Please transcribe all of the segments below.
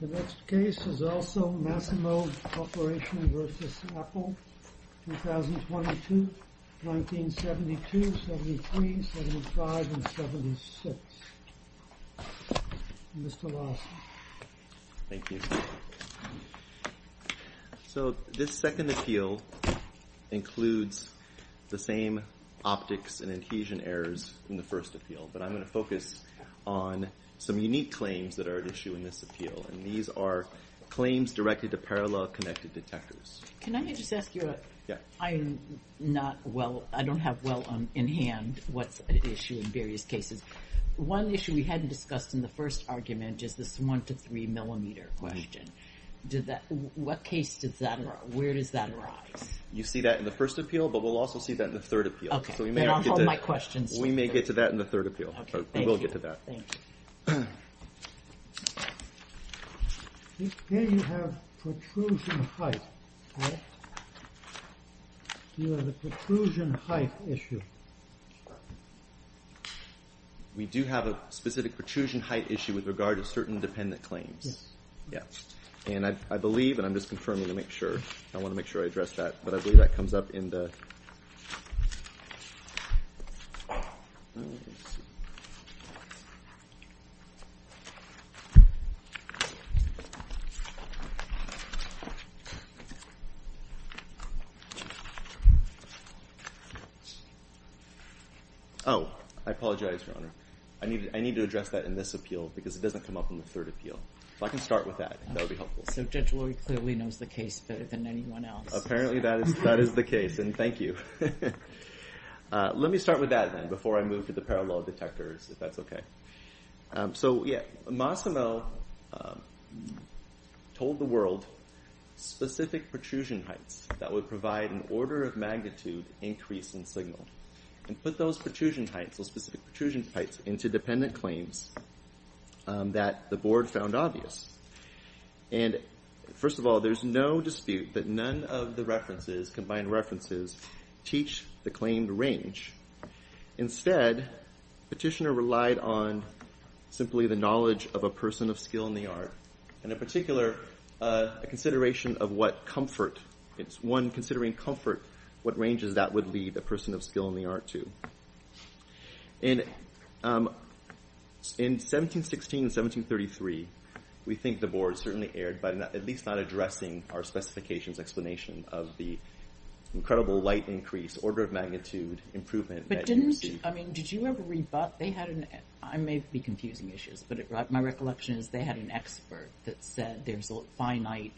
The next case is also Massimo Corporation v. Apple, 2022, 1972, 1973, 1975, and 1976. Mr. Lawson. Thank you. So, this second appeal includes the same optics and adhesion errors from the first appeal, but I'm going to focus on some unique claims that are at issue in this appeal. And these are claims directed to parallel connected detectors. Can I just ask you a – I'm not well – I don't have well in hand what's at issue in various cases. One issue we hadn't discussed in the first argument is this one to three millimeter question. What case does that – where does that arise? You see that in the first appeal, but we'll also see that in the third appeal. Okay, then I'll hold my questions to that. We may get to that in the third appeal. Okay, thank you. We will get to that. Thank you. Here you have protrusion height. You have a protrusion height issue. We do have a specific protrusion height issue with regard to certain dependent claims. Yes. Yes. And I believe, and I'm just confirming to make sure, I want to make sure I address that, but I believe that comes up in the – Oh, I apologize, Your Honor. I need to address that in this appeal because it doesn't come up in the third appeal. So I can start with that. That would be helpful. So Judge Lowy clearly knows the case better than anyone else. Apparently that is the case, and thank you. Let me start with that then before I move to the parallel detectors, if that's okay. So Massimo told the world specific protrusion heights that would provide an order of magnitude increase in signal and put those protrusion heights, those specific protrusion heights, into dependent claims that the board found obvious. And first of all, there's no dispute that none of the references, combined references, teach the claimed range. Instead, Petitioner relied on simply the knowledge of a person of skill in the art, and in particular, a consideration of what comfort, one considering comfort, what ranges that would lead a person of skill in the art to. And in 1716 and 1733, we think the board certainly erred by at least not addressing our specifications explanation of the incredible light increase, order of magnitude improvement that you received. But didn't – I mean, did you ever read – they had an – I may be confusing issues, but my recollection is they had an expert that said there's a finite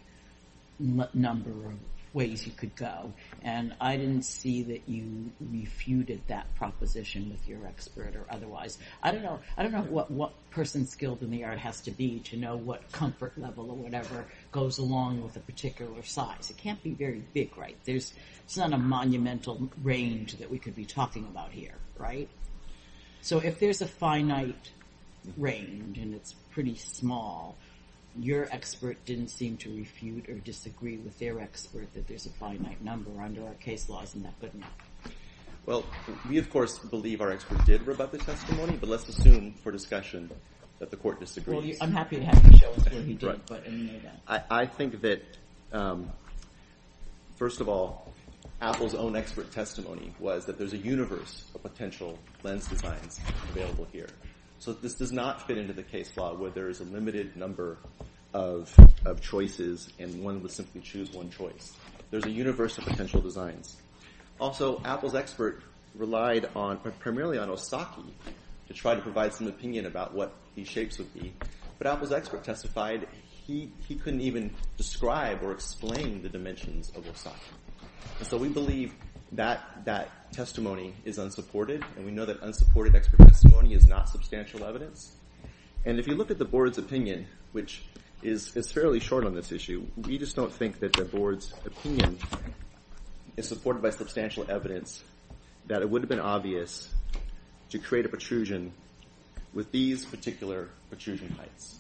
number of ways you could go, and I didn't see that you refuted that proposition with your expert or otherwise. I don't know what person skilled in the art has to be to know what comfort level or whatever goes along with a particular size. It can't be very big, right? There's not a monumental range that we could be talking about here, right? So if there's a finite range and it's pretty small, your expert didn't seem to refute or disagree with their expert that there's a finite number. Under our case laws, isn't that good enough? Well, we, of course, believe our expert did rebut the testimony, but let's assume for discussion that the court disagrees. Well, I'm happy to have you show us what he did. I think that, first of all, Apple's own expert testimony was that there's a universe of potential lens designs available here. So this does not fit into the case law where there is a limited number of choices and one would simply choose one choice. There's a universe of potential designs. Also, Apple's expert relied primarily on Osaka to try to provide some opinion about what these shapes would be, but Apple's expert testified he couldn't even describe or explain the dimensions of Osaka. So we believe that that testimony is unsupported, and we know that unsupported expert testimony is not substantial evidence. And if you look at the board's opinion, which is fairly short on this issue, we just don't think that the board's opinion is supported by substantial evidence that it would have been obvious to create a protrusion with these particular protrusion heights.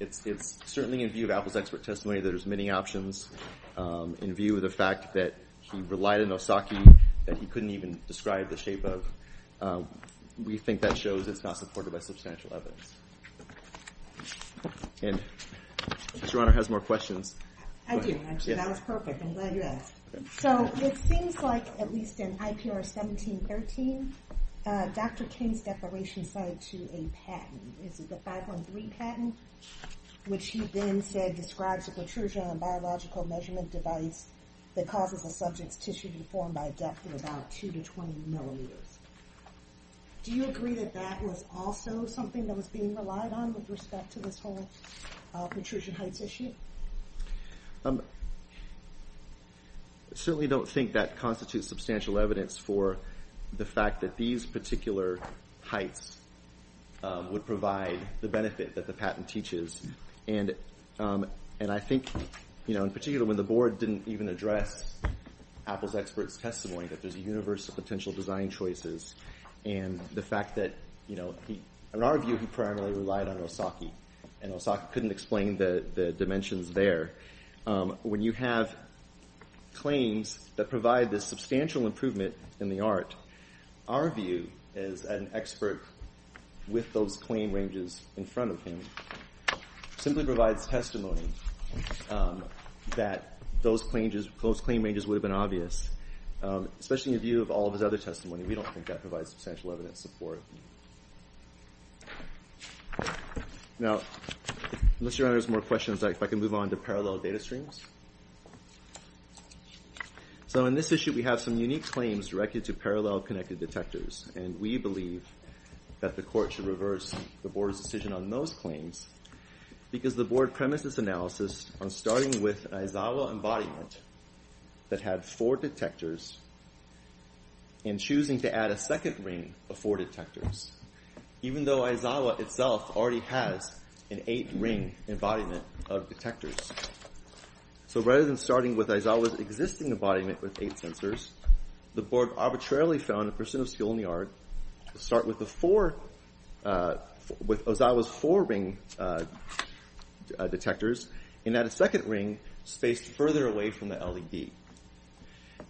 It's certainly in view of Apple's expert testimony that there's many options, in view of the fact that he relied on Osaka that he couldn't even describe the shape of. We think that shows it's not supported by substantial evidence. And if Your Honor has more questions. I do. That was perfect. I'm glad you asked. So it seems like, at least in IPR 1713, Dr. King's declaration cited to a patent. Is it the 513 patent? Which he then said describes a protrusion on a biological measurement device that causes a subject's tissue to deform by a depth of about 2 to 20 millimeters. Do you agree that that was also something that was being relied on with respect to this whole protrusion heights issue? I certainly don't think that constitutes substantial evidence for the fact that these particular heights would provide the benefit that the patent teaches. And I think, in particular, when the board didn't even address Apple's expert's testimony that there's a universe of potential design choices, and the fact that, in our view, he primarily relied on Osaka, and Osaka couldn't explain the dimensions there. When you have claims that provide this substantial improvement in the art, our view as an expert with those claim ranges in front of him simply provides testimony that those claim ranges would have been obvious. Especially in view of all of his other testimony, we don't think that provides substantial evidence support. Now, unless Your Honor has more questions, if I can move on to parallel data streams. So in this issue, we have some unique claims directed to parallel connected detectors, and we believe that the court should reverse the board's decision on those claims, because the board premises analysis on starting with an Aizawa embodiment that had four detectors, and choosing to add a second ring of four detectors, even though Aizawa itself already has an eight-ring embodiment of detectors. So rather than starting with Aizawa's existing embodiment with eight sensors, the board arbitrarily found a person of skill in the art to start with Aizawa's four-ring detectors, and add a second ring spaced further away from the LED.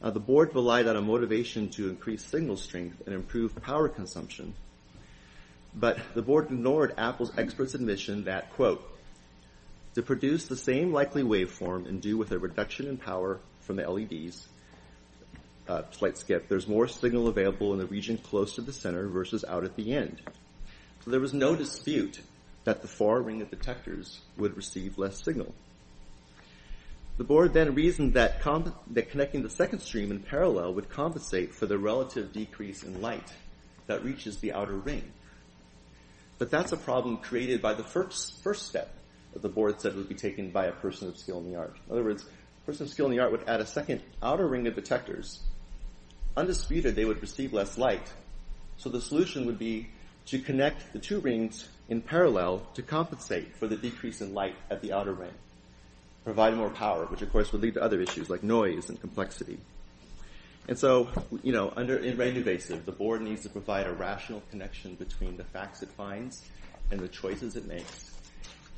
The board relied on a motivation to increase signal strength and improve power consumption, but the board ignored Apple's expert's admission that, quote, to produce the same likely waveform and do with a reduction in power from the LEDs, slight skip, there's more signal available in the region close to the center versus out at the end. So there was no dispute that the four-ring of detectors would receive less signal. The board then reasoned that connecting the second stream in parallel would compensate for the relative decrease in light that reaches the outer ring. But that's a problem created by the first step that the board said would be taken by a person of skill in the art. In other words, a person of skill in the art would add a second outer ring of detectors. Undisputed, they would receive less light. So the solution would be to connect the two rings in parallel to compensate for the decrease in light at the outer ring, provide more power, which of course would lead to other issues like noise and complexity. And so, you know, in Raynervasive, the board needs to provide a rational connection between the facts it finds and the choices it makes.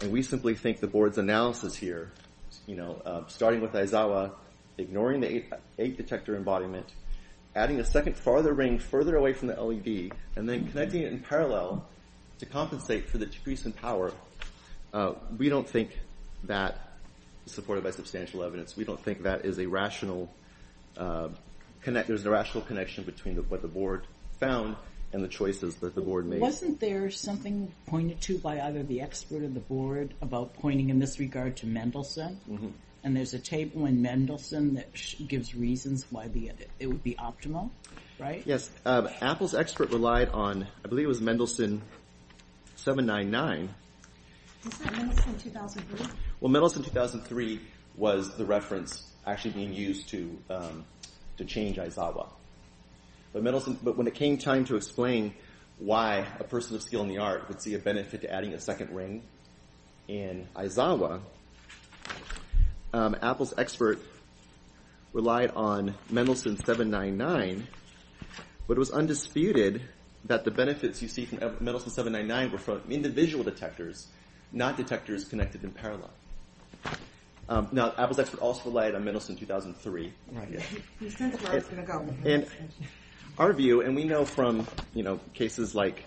And we simply think the board's analysis here, you know, starting with Aizawa, ignoring the eight-detector embodiment, adding a second farther ring further away from the LED, and then connecting it in parallel to compensate for the decrease in power, we don't think that, supported by substantial evidence, we don't think that there's a rational connection between what the board found and the choices that the board made. Wasn't there something pointed to by either the expert or the board about pointing in this regard to Mendelsohn? And there's a tape when Mendelsohn gives reasons why it would be optimal, right? Yes. Apple's expert relied on, I believe it was Mendelsohn 799. Was that Mendelsohn 2003? Well, Mendelsohn 2003 was the reference actually being used to change Aizawa. But when it came time to explain why a person of skill in the art would see a benefit to adding a second ring in Aizawa, Apple's expert relied on Mendelsohn 799, but it was undisputed that the benefits you see from Mendelsohn 799 were from individual detectors, not detectors connected in parallel. Now, Apple's expert also relied on Mendelsohn 2003. Right. He sensed where it was going to go. Our view, and we know from cases like...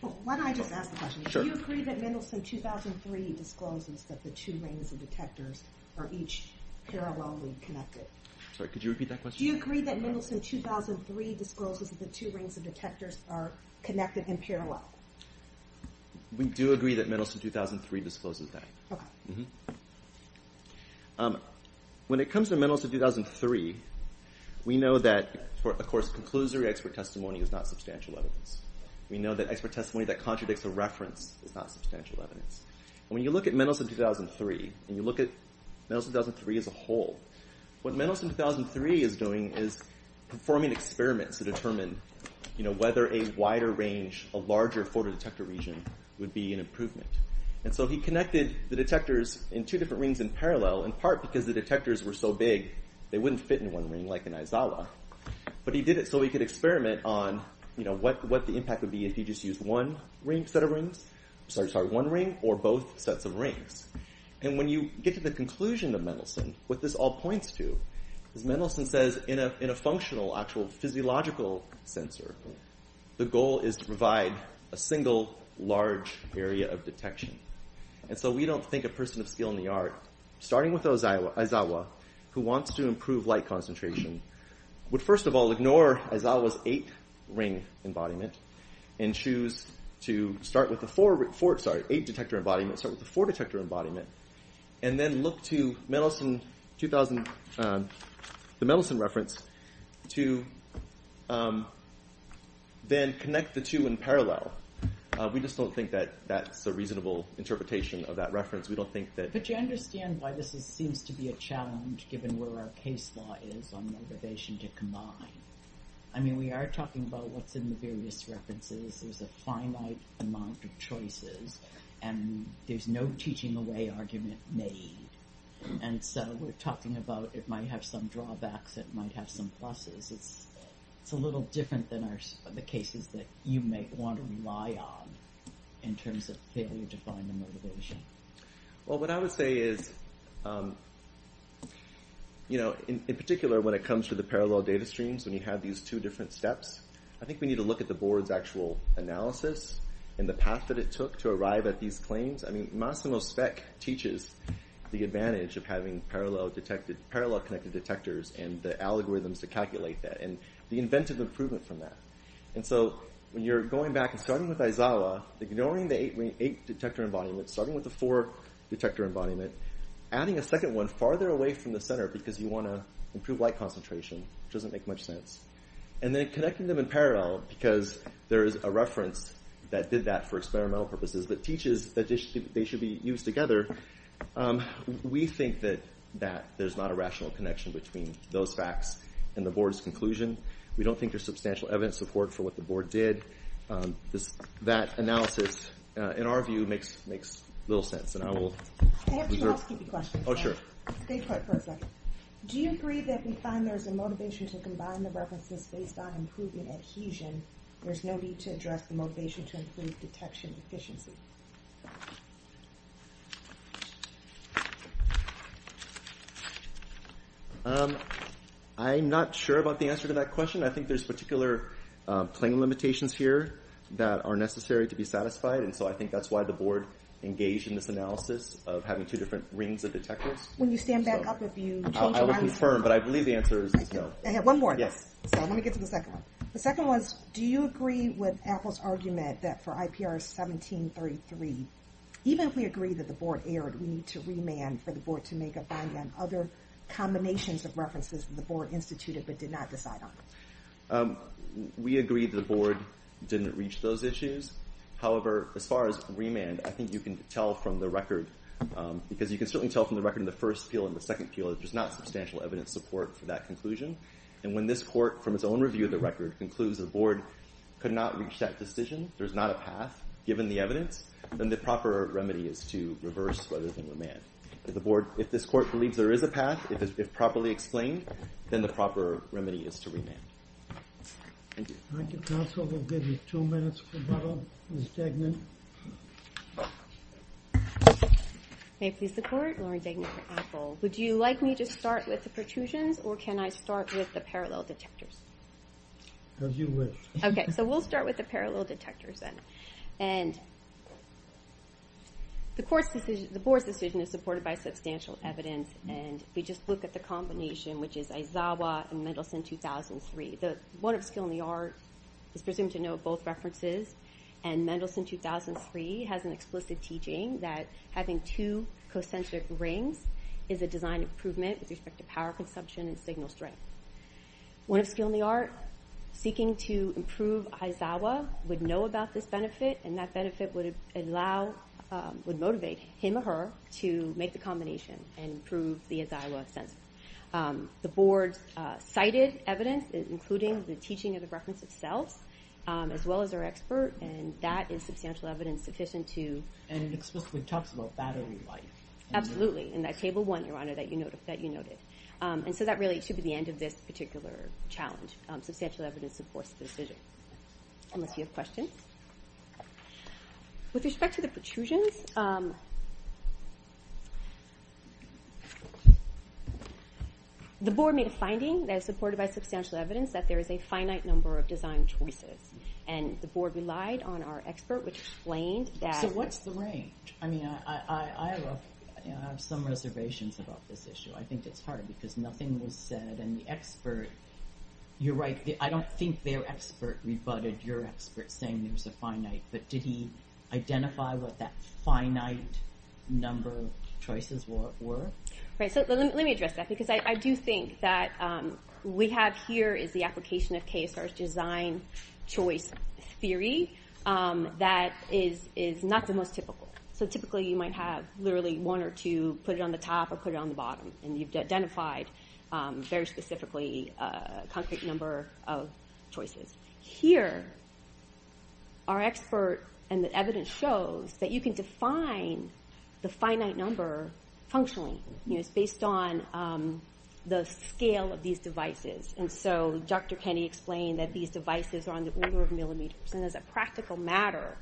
Why don't I just ask the question? Do you agree that Mendelsohn 2003 discloses that the two rings of detectors are each parallelly connected? Sorry, could you repeat that question? We do agree that Mendelsohn 2003 discloses that. When it comes to Mendelsohn 2003, we know that, of course, conclusory expert testimony is not substantial evidence. We know that expert testimony that contradicts a reference is not substantial evidence. When you look at Mendelsohn 2003, and you look at Mendelsohn 2003 as a whole, what Mendelsohn 2003 is doing is performing experiments to determine whether a wider range, a larger photodetector region would be an improvement. And so he connected the detectors in two different rings in parallel, in part because the detectors were so big, they wouldn't fit in one ring like in Izawa. But he did it so he could experiment on what the impact would be if he just used one set of rings, sorry, one ring, or both sets of rings. And when you get to the conclusion of Mendelsohn, what this all points to, is Mendelsohn says in a functional, actual physiological sensor, the goal is to provide a single large area of detection. And so we don't think a person of skill in the art, starting with Izawa, who wants to improve light concentration, would first of all ignore Izawa's eight ring embodiment, and choose to start with the four, sorry, eight detector embodiment, start with the four detector embodiment, and then look to Mendelsohn, the Mendelsohn reference, to then connect the two in parallel. We just don't think that that's a reasonable interpretation of that reference. We don't think that... But you understand why this seems to be a challenge, given where our case law is on motivation to combine. I mean, we are talking about what's in the various references, there's a finite amount of choices, and there's no teaching away argument made. And so we're talking about it might have some drawbacks, it might have some pluses. It's a little different than the cases that you may want to rely on, in terms of failure to find the motivation. Well, what I would say is, you know, in particular when it comes to the parallel data streams, when you have these two different steps, I think we need to look at the board's actual analysis, and the path that it took to arrive at these claims. I mean, Massimo Speck teaches the advantage of having parallel connected detectors, and the algorithms to calculate that, and the inventive improvement from that. And so, when you're going back and starting with Aizawa, ignoring the eight detector embodiments, starting with the four detector embodiments, adding a second one farther away from the center, because you want to improve light concentration, which doesn't make much sense. And then connecting them in parallel, because there is a reference that did that for experimental purposes, that teaches that they should be used together. We think that there's not a rational connection between those facts and the board's conclusion. We don't think there's substantial evidence support for what the board did. That analysis, in our view, makes little sense. I have two housekeeping questions. Oh, sure. Do you agree that we find there's a motivation to combine the references based on improvement adhesion? There's no need to address the motivation to improve detection efficiency. I'm not sure about the answer to that question. I think there's particular claim limitations here that are necessary to be satisfied, and so I think that's why the board engaged in this analysis of having two different rings of detectors. Will you stand back up if you change your answer? I have one more. Let me get to the second one. The second one is, do you agree with Apple's argument that for IPR 1733, even if we agree that the board erred, we need to remand for the board to make a finding on other combinations of references that the board instituted but did not decide on? We agree that the board didn't reach those issues. However, as far as remand, I think you can tell from the record, because you can certainly tell from the record from the first appeal and the second appeal that there's not substantial evidence support for that conclusion, and when this court, from its own review of the record, concludes the board could not reach that decision, there's not a path given the evidence, then the proper remedy is to reverse what is in remand. If this court believes there is a path, if it's properly explained, then the proper remedy is to remand. Thank you. Thank you, counsel. We'll give you two minutes for rebuttal. Ms. Degnan? May it please the court, Lauren Degnan for Apple. Would you like me to start with the pertusions, or can I start with the parallel detectors? As you wish. Okay, so we'll start with the parallel detectors then. And the board's decision is supported by substantial evidence, and if we just look at the combination, which is Aizawa and Mendelsohn, 2003. The one of skill and the art is presumed to note both references, and Mendelsohn, 2003, has an explicit teaching that having two co-centric rings is a design improvement with respect to power consumption and signal strength. One of skill and the art, seeking to improve Aizawa would know about this benefit, and that benefit would motivate him or her to make the combination and improve the Aizawa sensor. The board cited evidence, including the teaching of the reference itself, as well as our expert, and that is substantial evidence sufficient to... And it explicitly talks about battery life. Absolutely, in that table one, Your Honor, that you noted. And so that really should be the end of this particular challenge. Substantial evidence supports the decision. Unless you have questions? With respect to the pertusions, the board made a finding that is supported by substantial evidence that there is a finite number of design choices. And the board relied on our expert, which explained that... So what's the range? I mean, I have some reservations about this issue. I think it's hard, because nothing was said, and the expert... You're right, I don't think their expert rebutted your expert saying there was a finite, but did he identify what that finite number of choices were? Right, so let me address that, because I do think that we have here is the application of KSR's design choice theory that is not the most typical. So typically you might have literally one or two, put it on the top or put it on the bottom, and you've identified very specifically a concrete number of choices. Here, our expert and the evidence shows that you can define the finite number functionally. It's based on the scale of these devices. And so Dr. Kenney explained that these devices are on the order of millimeters. And as a practical matter,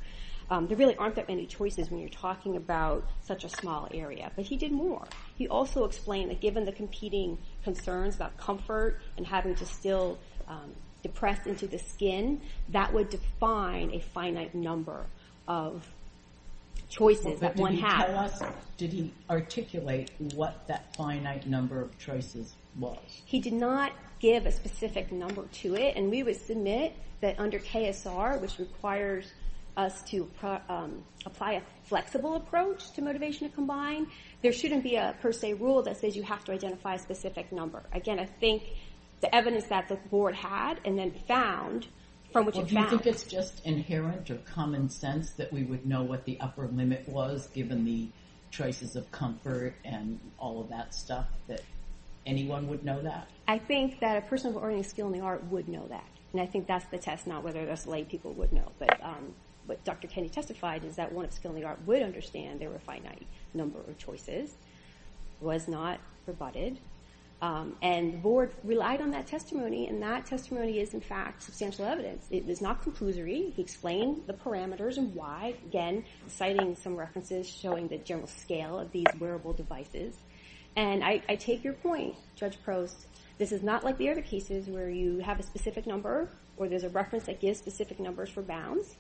there really aren't that many choices when you're talking about such a small area. But he did more. He also explained that given the competing concerns about comfort and having to still depress into the skin, that would define a finite number of choices, that one half. So tell us, did he articulate what that finite number of choices was? He did not give a specific number to it. And we would submit that under KSR, which requires us to apply a flexible approach to motivation to combine, there shouldn't be a per se rule that says you have to identify a specific number. Again, I think the evidence that the board had and then found from what you found... Well, do you think it's just inherent or common sense that we would know what the upper limit was given the choices of comfort and all of that stuff, that anyone would know that? I think that a person with a learning skill in the art would know that. And I think that's the test, not whether that's the way people would know. But what Dr. Kenney testified is that one with a skill in the art would understand there were a finite number of choices. It was not rebutted. And the board relied on that testimony, and that testimony is, in fact, substantial evidence. It is not conclusory. He explained the parameters and why. Again, citing some references showing the general scale of these wearable devices. And I take your point, Judge Prost. This is not like the other cases where you have a specific number or there's a reference that gives specific numbers for bounds.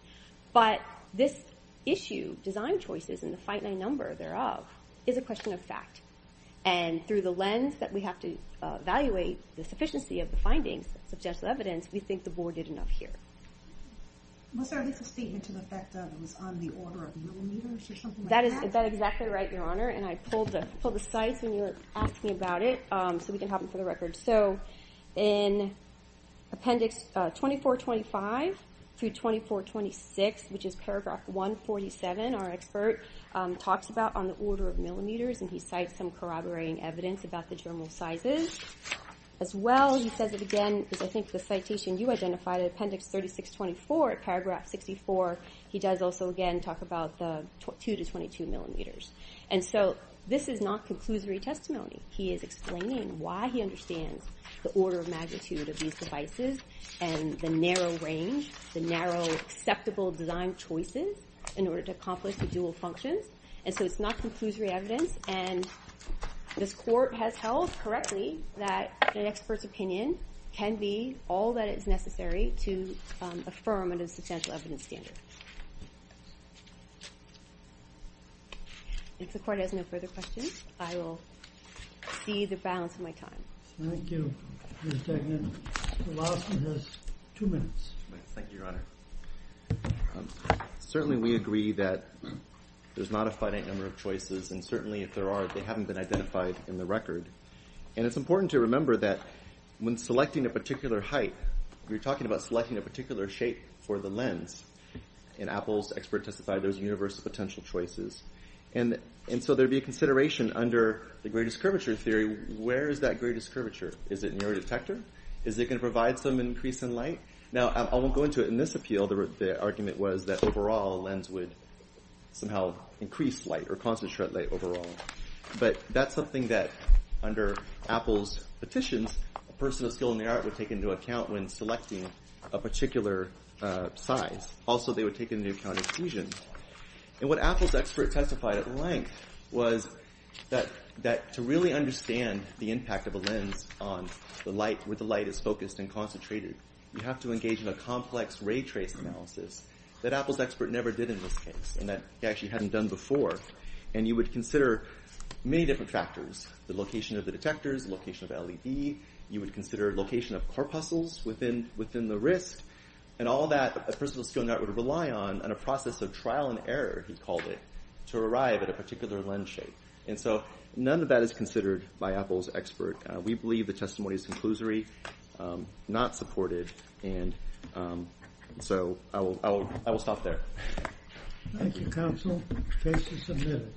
But this issue, design choices, and the finite number thereof, is a question of fact. And through the lens that we have to evaluate the sufficiency of the findings, the substantial evidence, we think the board did enough here. Was there at least a statement to the effect that it was on the order of millimeters or something like that? Is that exactly right, Your Honor? And I pulled the cites when you were asking about it so we can have them for the record. So in appendix 2425 through 2426, which is paragraph 147, our expert talks about on the order of millimeters, and he cites some corroborating evidence about the general sizes. As well, he says it again, because I think the citation you identified, appendix 3624, paragraph 64, he does also again talk about the 2 to 22 millimeters. And so this is not conclusory testimony. He is explaining why he understands the order of magnitude of these devices and the narrow range, the narrow, acceptable design choices in order to accomplish the dual functions. And so it's not conclusory evidence. And this Court has held correctly that an expert's opinion can be all that is necessary to affirm under the substantial evidence standard. If the Court has no further questions, I will speed the balance of my time. Thank you, Ms. Tegnant. The last one has two minutes. Thank you, Your Honor. Certainly we agree that there's not a finite number of choices and certainly if there are, they haven't been identified in the record. And it's important to remember that when selecting a particular height, we're talking about selecting a particular shape for the lens. And Apple's expert testified there's universal potential choices. And so there'd be a consideration under the greatest curvature theory. Where is that greatest curvature? Is it in your detector? Is it going to provide some increase in light? Now, I won't go into it. In this appeal, the argument was that overall a lens would somehow increase light or concentrate light overall. But that's something that under Apple's petitions, personal skill in the art would take into account when selecting a particular size. Also, they would take into account exclusion. And what Apple's expert testified at length was that to really understand the impact of a lens on where the light is focused and concentrated, you have to engage in a complex ray trace analysis that Apple's expert never did in this case and that he actually hadn't done before. And you would consider many different factors. The location of the detectors, the location of LED, you would consider location of corpuscles within the wrist. And all that a personal skill in the art would rely on in a process of trial and error, he called it, to arrive at a particular lens shape. And so none of that is considered by Apple's expert. We believe the testimony is conclusory, not supported, and so I will stop there. Thank you, counsel. Case is submitted.